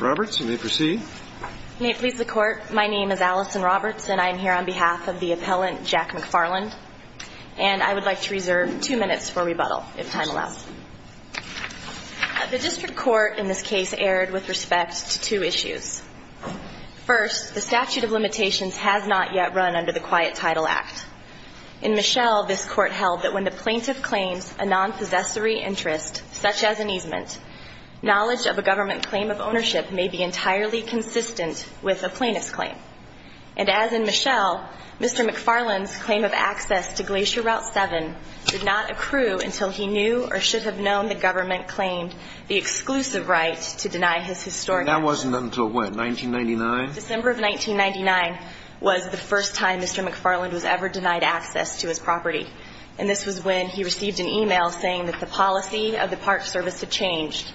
Roberts, you may proceed. May it please the Court, my name is Allison Roberts and I am here on behalf of the appellant Jack McFarland and I would like to reserve two minutes for rebuttal if time allows. The district court in this case erred with respect to two issues. First, the statute of limitations has not yet run under the Quiet Title Act. In Michelle, this court held that when the plaintiff claims a claim of ownership may be entirely consistent with a plaintiff's claim. And as in Michelle, Mr. McFarland's claim of access to Glacier Route 7 did not accrue until he knew or should have known the government claimed the exclusive right to deny his historic property. That wasn't until what, 1999? December of 1999 was the first time Mr. McFarland was ever denied access to his property. And this was when he received an e-mail saying that the policy of the Park Service had changed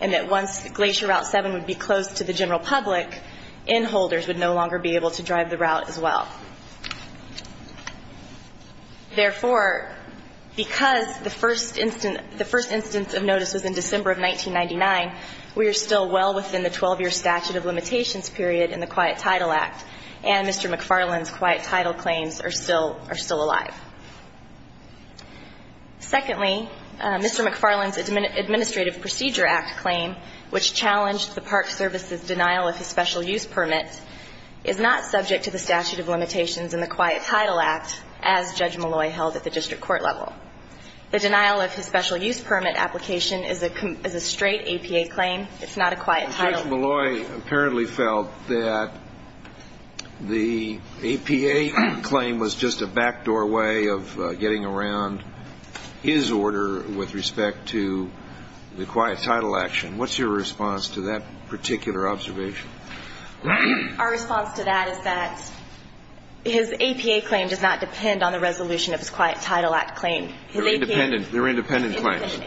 and that once Glacier Route 7 would be closed to the general public, in-holders would no longer be able to drive the route as well. Therefore, because the first instance of notice was in December of 1999, we are still well within the 12-year statute of limitations period in the Quiet Title Act, and Mr. McFarland's Quiet Title claims are still alive. Secondly, Mr. McFarland's Administrative Procedure Act claim, which challenged the Park Service's denial of his special use permit, is not subject to the statute of limitations in the Quiet Title Act as Judge Malloy held at the district court level. The denial of his special use permit application is a straight APA claim. It's not a Quiet Title. But Judge Malloy apparently felt that the APA claim was just a back doorway of getting around his order with respect to the Quiet Title action. What's your response to that particular observation? Our response to that is that his APA claim does not depend on the resolution of his Quiet Title Act claim. They're independent claims.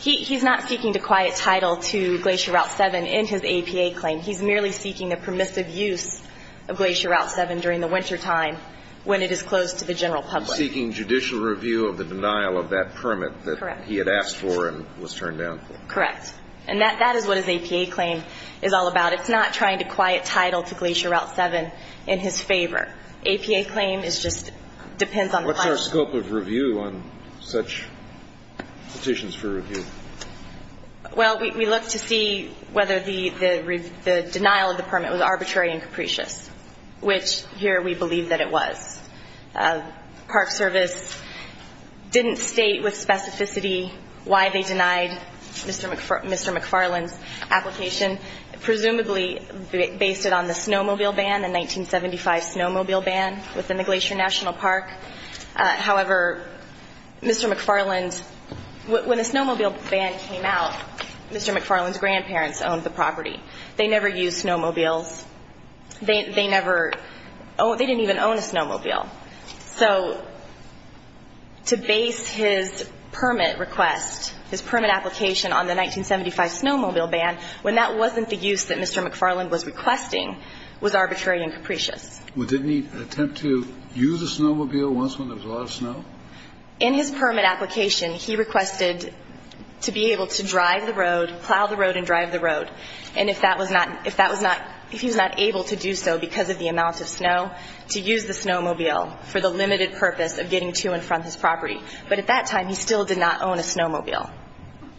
He's not seeking to Quiet Title to Glacier Route 7 in his APA claim. He's merely seeking the permissive use of Glacier Route 7 during the wintertime when it is closed to the general public. He's seeking judicial review of the denial of that permit that he had asked for and was turned down for. Correct. And that is what his APA claim is all about. It's not trying to Quiet Title to Glacier Route 7 in his favor. APA claim is just What's our scope of review on such petitions for review? Well, we look to see whether the denial of the permit was arbitrary and capricious, which here we believe that it was. Park Service didn't state with specificity why they denied Mr. McFarland's application, presumably based it on the snowmobile ban, the However, Mr. McFarland, when the snowmobile ban came out, Mr. McFarland's grandparents owned the property. They never used snowmobiles. They never, they didn't even own a snowmobile. So to base his permit request, his permit application on the 1975 snowmobile ban when that wasn't the use that Mr. McFarland was requesting was arbitrary and capricious. Well, didn't he attempt to use a snowmobile once when there was a lot of snow? In his permit application, he requested to be able to drive the road, plow the road and drive the road. And if that was not if that was not if he was not able to do so because of the amount of snow to use the snowmobile for the limited purpose of getting to and from his property. But at that time, he still did not own a snowmobile.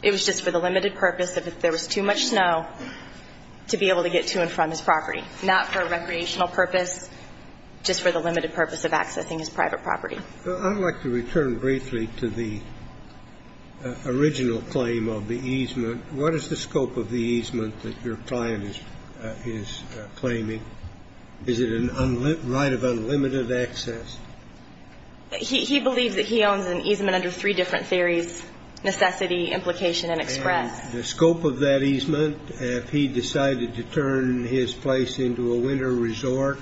It was just for the limited purpose of if there was too much snow to be able to get to and from his property, not for recreational purpose, just for the limited purpose of accessing his private property. I'd like to return briefly to the original claim of the easement. What is the scope of the easement that your client is claiming? Is it a right of unlimited access? He believes that he owns an easement under three different theories, necessity, implication and express. And the scope of that easement, if he decided to turn his place into a winter resort,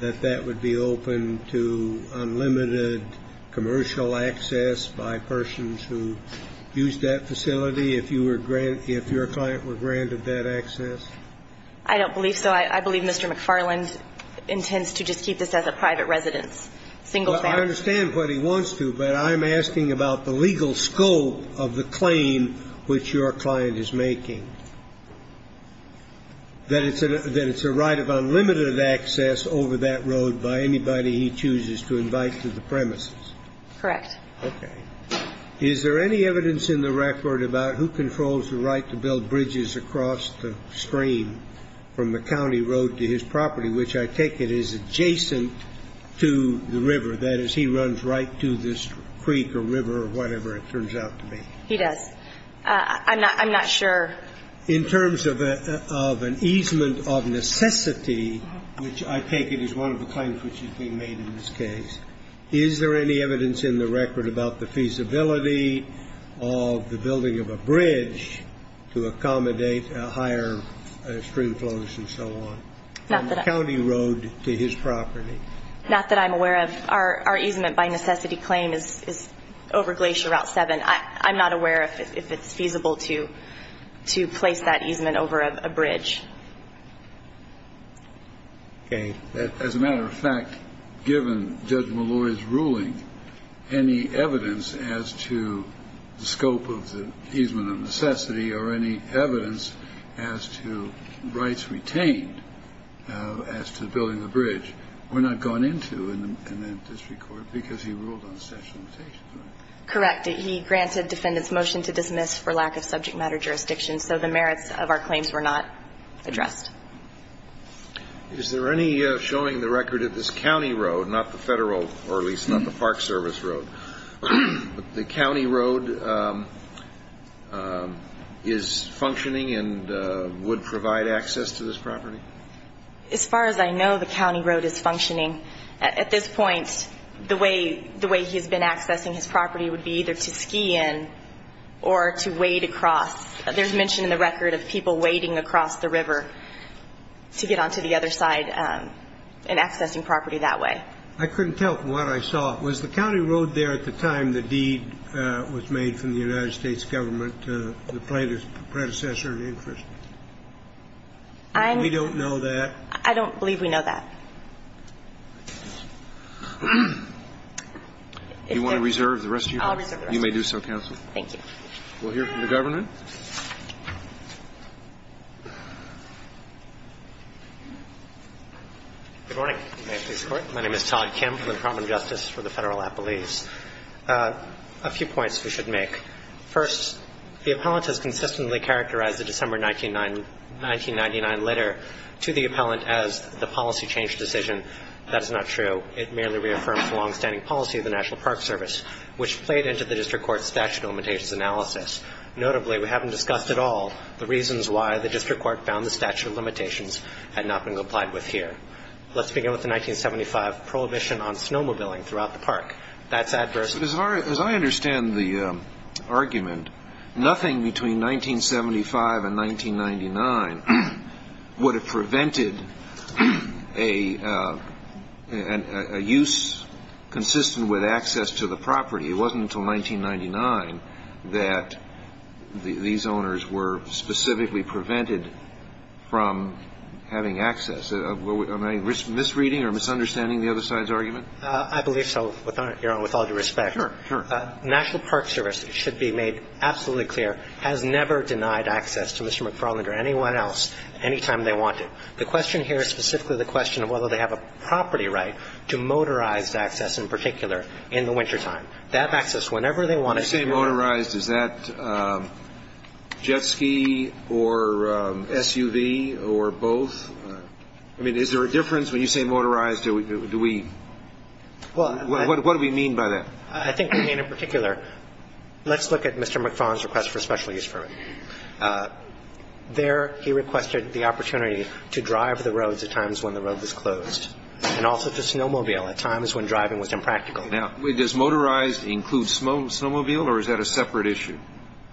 that that would be open to unlimited commercial access by persons who use that facility if you were if your client were granted that access? I don't believe so. I believe Mr. McFarland intends to just keep this as a private residence, single family. Well, I understand what he wants to, but I'm asking about the legal scope of the claim which your client is making, that it's a right of unlimited access over that road by anybody he chooses to invite to the premises. Correct. Okay. Is there any evidence in the record about who controls the right to build bridges across the stream from the county road to his property, which I take it is adjacent to the river, that is, he runs right to this creek or river or whatever it turns out to be? He does. I'm not sure. In terms of an easement of necessity, which I take it is one of the claims which has been made in this case, is there any evidence in the record about the feasibility of the building of a bridge to accommodate higher stream flows and so on from the county road to his property? Not that I'm aware of. Our easement by necessity claim is over Glacier Route 7. I'm not aware if it's feasible to place that easement over a bridge. Okay. As a matter of fact, given Judge Malloy's ruling, any evidence as to the scope of the easement of necessity or any evidence as to rights retained as to building the bridge were not gone into in the district court because he ruled on the statute of limitations, right? Correct. He granted defendants' motion to dismiss for lack of subject matter jurisdiction, so the merits of our claims were not addressed. Is there any showing the record of this county road, not the federal or at least not the Park Service road, but the county road is functioning and would provide access to this property? As far as I know, the county road is functioning. At this point, the way he's been accessing his property would be either to ski in or to wade across. There's mention in the record of people wading across the river to get onto the other side and accessing property that way. I couldn't tell from what I saw. Was the county road there at the time the deed was made from the United States government, the predecessor in interest? We don't know that. I don't believe we know that. Do you want to reserve the rest of your time? I'll reserve the rest of my time. You may do so, counsel. Thank you. We'll hear from the Governor. Good morning. My name is Todd Kim from the Department of Justice for the Federal Appellees. A few points we should make. First, the appellant has consistently characterized the December 1999 letter to the appellant as the policy change decision. That is not true. It merely reaffirms the longstanding policy of the National Park Service, which played into the district court's statute of limitations analysis. Notably, we haven't discussed at all the reasons why the district court found the statute of limitations had not been complied with here. Let's begin with the 1975 prohibition on snowmobiling throughout the park. That's adverse. As I understand the argument, nothing between 1975 and 1999 would have prevented a use consistent with access to the property. It wasn't until 1999 that these owners were specifically prevented from having access. Am I misreading or misunderstanding the other side's argument? I believe so, Your Honor, with all due respect. Sure, sure. National Park Service, it should be made absolutely clear, has never denied access to Mr. McFarland or anyone else anytime they wanted. The question here is specifically the question of whether they have a property right to motorized access in particular in the wintertime. That access, whenever they wanted to. When you say motorized, is that jet ski or SUV or both? I mean, is there a difference when you say motorized? Do we – what do we mean by that? I think we mean in particular. Let's look at Mr. McFarland's request for special use permit. There he requested the opportunity to drive the roads at times when the road was closed, and also to snowmobile at times when driving was impractical. Now, does motorized include snowmobile, or is that a separate issue?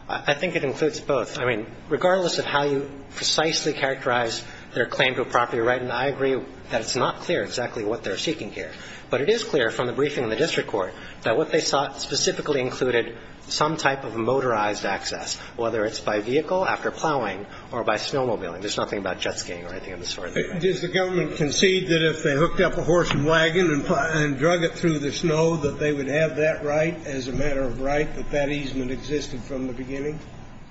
I think it includes both. I mean, regardless of how you precisely characterize their claim to a property right, and I agree that it's not clear exactly what they're seeking here. But it is clear from the briefing in the district court that what they sought specifically included some type of motorized access, whether it's by vehicle, after plowing, or by snowmobiling. There's nothing about jet skiing or anything of the sort there. Does the government concede that if they hooked up a horse and wagon and drug it through the snow, that they would have that right as a matter of right, that that easement existed from the beginning?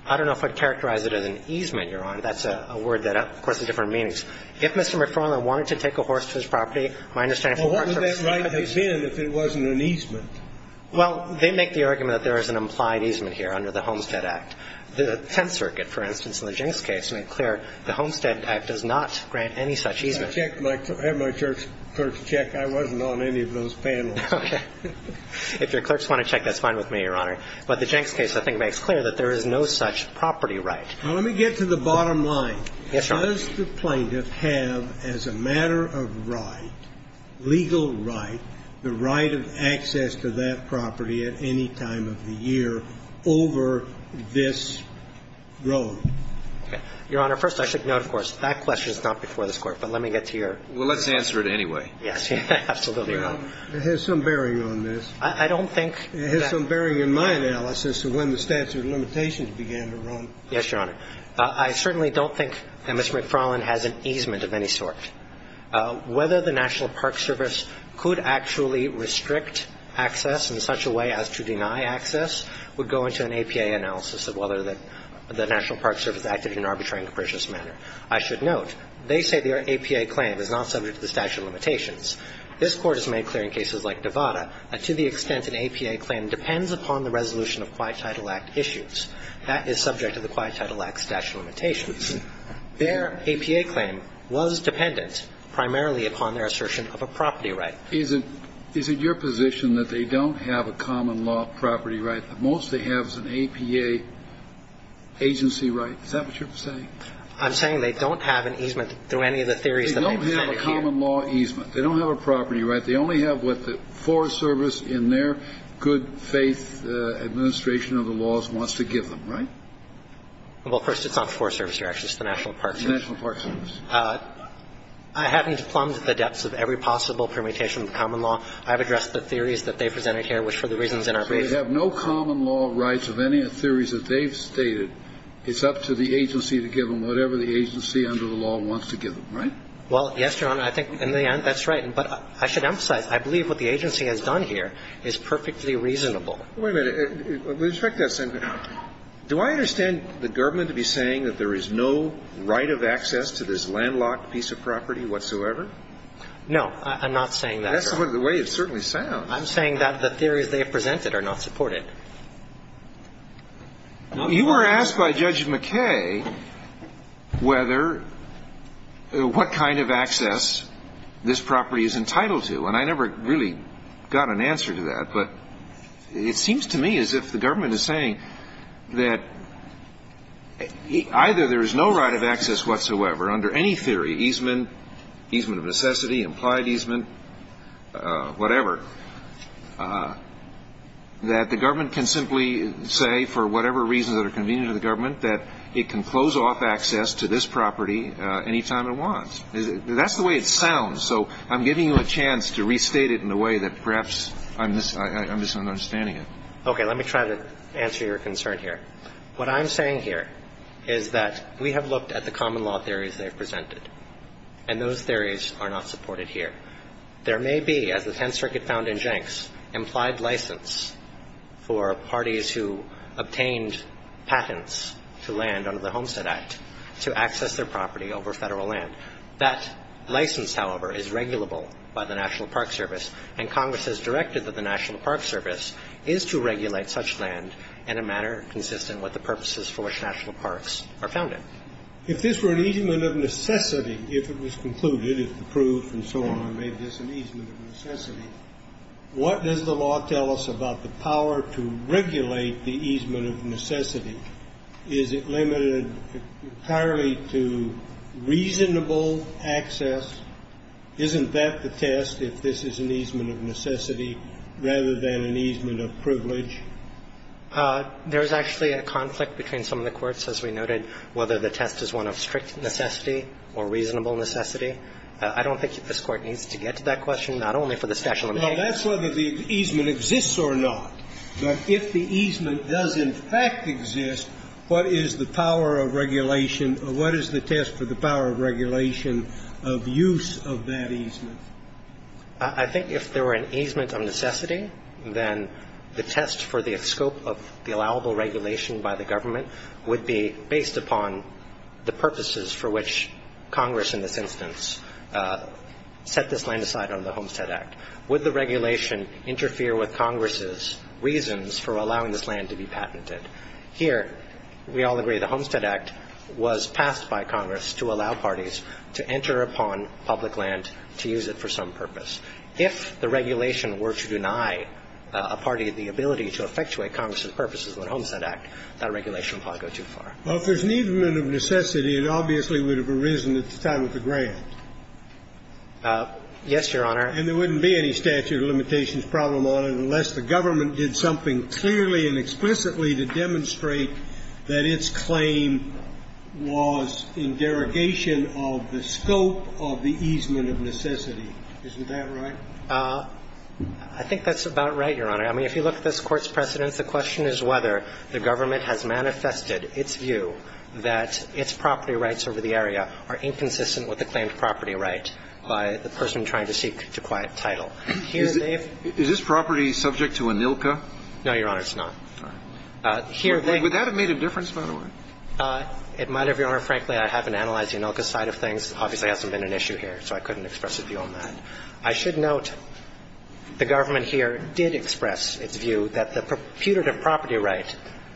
I don't know if I'd characterize it as an easement, Your Honor. That's a word that, of course, has different meanings. If Mr. McFarland wanted to take a horse to his property, my understanding from the court service is that he would. Well, what would that right have been if it wasn't an easement? Well, they make the argument that there is an implied easement here under the Homestead Act. The Tenth Circuit, for instance, in the Jenks case, made clear the Homestead Act does not grant any such easement. I checked my church clerk's check. I wasn't on any of those panels. Okay. If your clerks want to check, that's fine with me, Your Honor. But the Jenks case, I think, makes clear that there is no such property right. Now, let me get to the bottom line. Yes, Your Honor. Does the plaintiff have, as a matter of right, legal right, the right of access to that property at any time of the year over this road? Your Honor, first, I should note, of course, that question is not before this Court. But let me get to your question. Well, let's answer it anyway. Yes. Absolutely right. It has some bearing on this. I don't think that ---- It has some bearing in my analysis of when the statute of limitations began to run. Yes, Your Honor. I certainly don't think that Mr. McFarland has an easement of any sort. Whether the National Park Service could actually restrict access in such a way as to deny access would go into an APA analysis of whether the National Park Service acted in an arbitrary and capricious manner. I should note, they say their APA claim is not subject to the statute of limitations. This Court has made clear in cases like Nevada that to the extent an APA claim depends upon the resolution of Quiet Title Act issues, that is subject to the Quiet Title Act statute of limitations. Their APA claim was dependent primarily upon their assertion of a property right. Is it your position that they don't have a common law property right? The most they have is an APA agency right? Is that what you're saying? I'm saying they don't have an easement through any of the theories that I presented here. They don't have a common law easement. They don't have a property right. They only have what the Forest Service in their good faith administration of the laws wants to give them, right? Well, first, it's not the Forest Service. Actually, it's the National Park Service. The National Park Service. I haven't plumbed the depths of every possible permutation of the common law. I've addressed the theories that they presented here, which for the reasons in our brief. So they have no common law rights of any of the theories that they've stated. It's up to the agency to give them whatever the agency under the law wants to give them, right? Well, yes, Your Honor. I think in the end, that's right. But I should emphasize, I believe what the agency has done here is perfectly reasonable. Wait a minute. With respect to that, do I understand the government to be saying that there is no right of access to this landlocked piece of property whatsoever? No. I'm not saying that, Your Honor. That's the way it certainly sounds. I'm saying that the theories they have presented are not supported. You were asked by Judge McKay whether, what kind of access this property is entitled to. And I never really got an answer to that. But it seems to me as if the government is saying that either there is no right of access whatsoever under any theory, easement, easement of necessity, implied easement, whatever, that the government can simply say for whatever reasons that are convenient to the government that it can close off access to this property any time it wants. That's the way it sounds. So I'm giving you a chance to restate it in a way that perhaps I'm misunderstanding it. Okay. Let me try to answer your concern here. What I'm saying here is that we have looked at the common law theories they have presented, and those theories are not supported here. There may be, as the Tenth Circuit found in Jenks, implied license for parties who obtained patents to land under the Homestead Act to access their property over Federal land. That license, however, is regulable by the National Park Service. And Congress has directed that the National Park Service is to regulate such land in a manner consistent with the purposes for which national parks are founded. If this were an easement of necessity, if it was concluded, if the proof and so on made this an easement of necessity, what does the law tell us about the power to regulate the easement of necessity? Is it limited entirely to reasonable access? Isn't that the test, if this is an easement of necessity rather than an easement of privilege? There is actually a conflict between some of the courts, as we noted, whether the test is one of strict necessity or reasonable necessity. I don't think this Court needs to get to that question, not only for the statute of limitations. Well, that's whether the easement exists or not. But if the easement does in fact exist, what is the power of regulation or what is the test for the power of regulation of use of that easement? I think if there were an easement of necessity, then the test for the scope of the allowable regulation by the government would be based upon the purposes for which Congress in this instance set this land aside under the Homestead Act. Would the regulation interfere with Congress's reasons for allowing this land to be patented? Here, we all agree the Homestead Act was passed by Congress to allow parties to enter upon public land to use it for some purpose. If the regulation were to deny a party the ability to effectuate Congress's purposes under the Homestead Act, that regulation would probably go too far. Well, if there's an easement of necessity, it obviously would have arisen at the time of the grant. Yes, Your Honor. And there wouldn't be any statute of limitations problem on it unless the government did something clearly and explicitly to demonstrate that its claim was in derogation of the scope of the easement of necessity. Isn't that right? I think that's about right, Your Honor. I mean, if you look at this Court's precedents, the question is whether the government has manifested its view that its property rights over the area are inconsistent with the claimed property right by the person trying to seek to quiet title. Is this property subject to ANILCA? No, Your Honor, it's not. Would that have made a difference, by the way? It might have, Your Honor. Frankly, I haven't analyzed the ANILCA side of things. Obviously, it hasn't been an issue here, so I couldn't express a view on that. I should note the government here did express its view that the putative property right,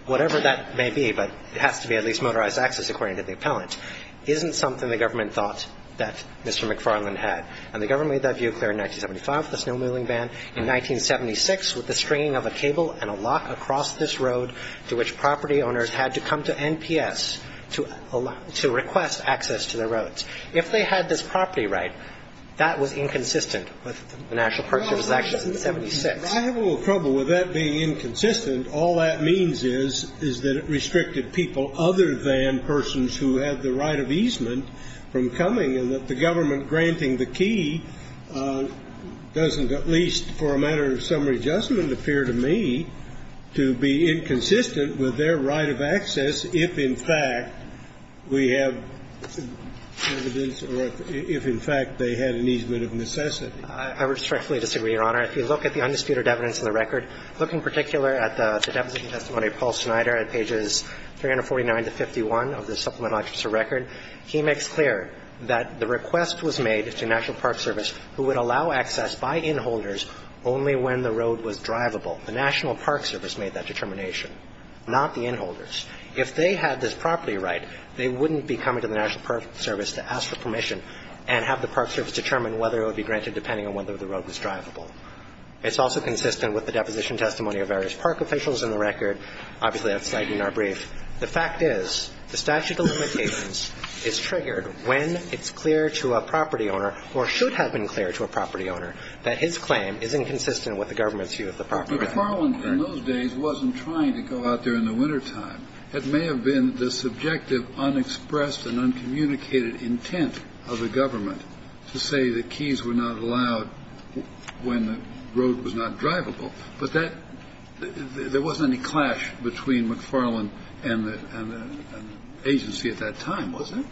whatever that may be, but it has to be at least motorized access according to the appellant, isn't something the government thought that Mr. McFarland had. And the government made that view clear in 1975 with the snowmobiling ban. In 1976, with the stringing of a cable and a lock across this road to which property owners had to come to NPS to request access to the roads, if they had this property right, that was inconsistent with the National Purchase Act of 1976. If I have a little trouble with that being inconsistent, all that means is, is that the government restricted people other than persons who had the right of easement from coming, and that the government granting the key doesn't, at least for a matter of summary judgment, appear to me to be inconsistent with their right of access if, in fact, we have evidence or if, in fact, they had an easement of necessity. I respectfully disagree, Your Honor. If you look at the undisputed evidence in the record, look in particular at the deposition testimony of Paul Snyder at pages 349 to 51 of the Supplemental Objection Record. He makes clear that the request was made to National Park Service who would allow access by inholders only when the road was drivable. The National Park Service made that determination, not the inholders. If they had this property right, they wouldn't be coming to the National Park Service to ask for permission and have the Park Service determine whether it would be granted depending on whether the road was drivable. It's also consistent with the deposition testimony of various park officials in the record. Obviously, that's cited in our brief. The fact is the statute of limitations is triggered when it's clear to a property owner or should have been clear to a property owner that his claim is inconsistent with the government's view of the property. Kennedy. But Farland, in those days, wasn't trying to go out there in the wintertime. It may have been the subjective, unexpressed and uncommunicated intent of the government to say the keys were not allowed when the road was not drivable. But that – there wasn't any clash between McFarland and the agency at that time, was there?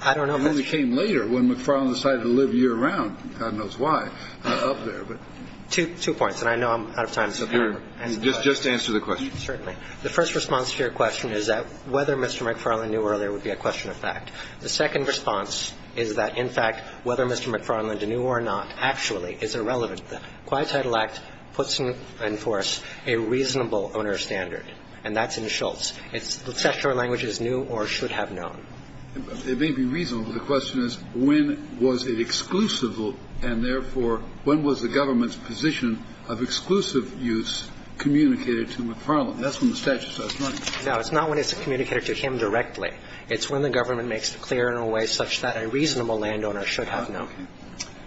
I don't know if that's true. It only came later when McFarland decided to live year-round, God knows why, up there. Two points. And I know I'm out of time. So can I answer the question? Sure. Just answer the question. Certainly. The first response to your question is that whether Mr. McFarland knew earlier would be a question of fact. The second response is that, in fact, whether Mr. McFarland knew or not actually is irrelevant. The Quiet Title Act puts in force a reasonable owner standard, and that's in Schultz. It's the statutory language is new or should have known. It may be reasonable. The question is, when was it exclusive, and therefore, when was the government's position of exclusive use communicated to McFarland? That's when the statute says. No, it's not when it's communicated to him directly. It's when the government makes it clear in a way such that a reasonable landowner should have known.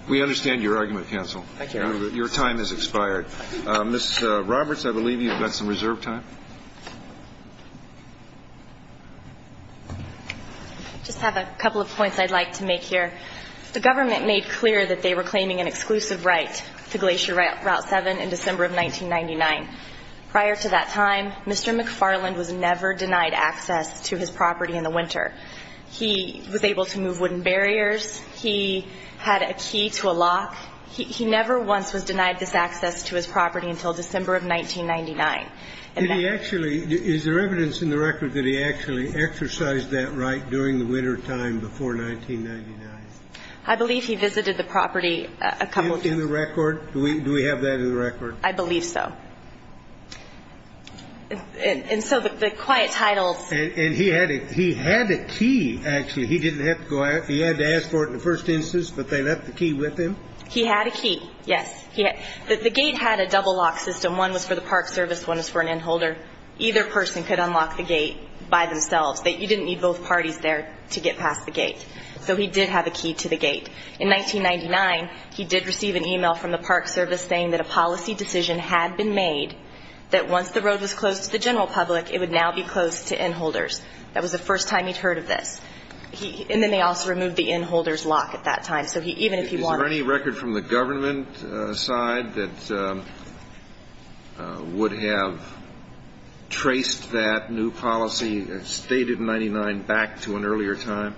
We understand your argument, counsel. Thank you. Your time has expired. Ms. Roberts, I believe you've got some reserve time. I just have a couple of points I'd like to make here. The government made clear that they were claiming an exclusive right to Glacier Route 7 in December of 1999. Prior to that time, Mr. McFarland was never denied access to his property in the winter. He was able to move wooden barriers. He had a key to a lock. He never once was denied this access to his property until December of 1999. Did he actually – is there evidence in the record that he actually exercised that right during the wintertime before 1999? I believe he visited the property a couple of times. Do you have that in the record? Do we have that in the record? I believe so. And so the Quiet Titles – And he had a key, actually. He didn't have to go out. He had to ask for it in the first instance, but they left the key with him? He had a key, yes. The gate had a double lock system. One was for the Park Service, one was for an inholder. Either person could unlock the gate by themselves. You didn't need both parties there to get past the gate. So he did have a key to the gate. In 1999, he did receive an email from the Park Service saying that a policy decision had been made that once the road was closed to the general public, it would now be closed to inholders. That was the first time he'd heard of this. And then they also removed the inholder's lock at that time. So even if he wanted – Is there any record from the government side that would have traced that new policy stated in 1999 back to an earlier time?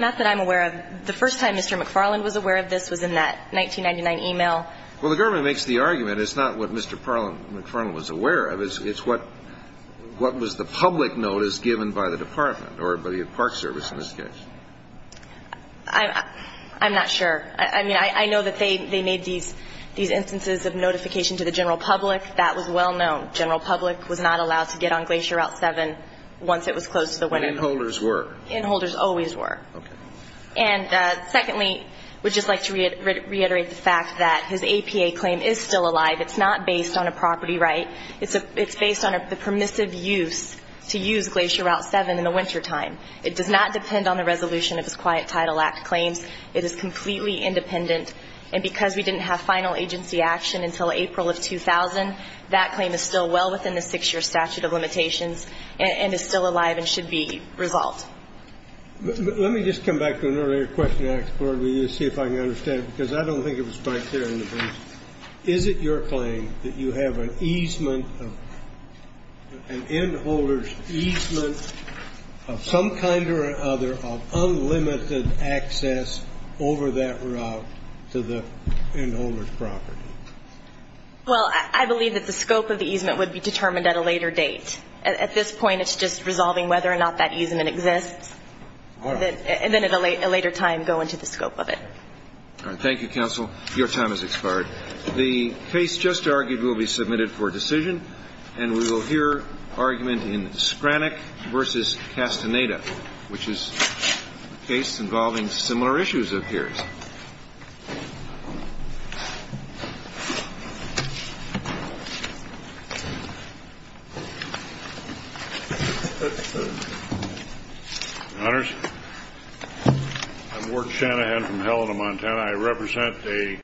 Not that I'm aware of. The first time Mr. McFarland was aware of this was in that 1999 email. Well, the government makes the argument it's not what Mr. McFarland was aware of. It's what was the public notice given by the department or by the Park Service in this case. I'm not sure. I mean, I know that they made these instances of notification to the general public. That was well known. General public was not allowed to get on Glacier Route 7 once it was closed to the winner. Inholders were. Inholders always were. Okay. And secondly, we'd just like to reiterate the fact that his APA claim is still alive. It's not based on a property right. It's based on the permissive use to use Glacier Route 7 in the wintertime. It does not depend on the resolution of his Quiet Title Act claims. It is completely independent. And because we didn't have final agency action until April of 2000, that claim is still well within the six-year statute of limitations and is still alive and should be resolved. Let me just come back to an earlier question I asked the board. Will you see if I can understand it? Because I don't think it was quite clear in the brief. Is it your claim that you have an easement of an inholder's easement of some kind or another of unlimited access over that route to the inholder's property? Well, I believe that the scope of the easement would be determined at a later date. At this point, it's just resolving whether or not that easement exists. All right. And then at a later time go into the scope of it. All right. Thank you, counsel. Your time has expired. The case just argued will be submitted for decision, and we will hear argument in Skranek v. Castaneda, which is a case involving similar issues, it appears.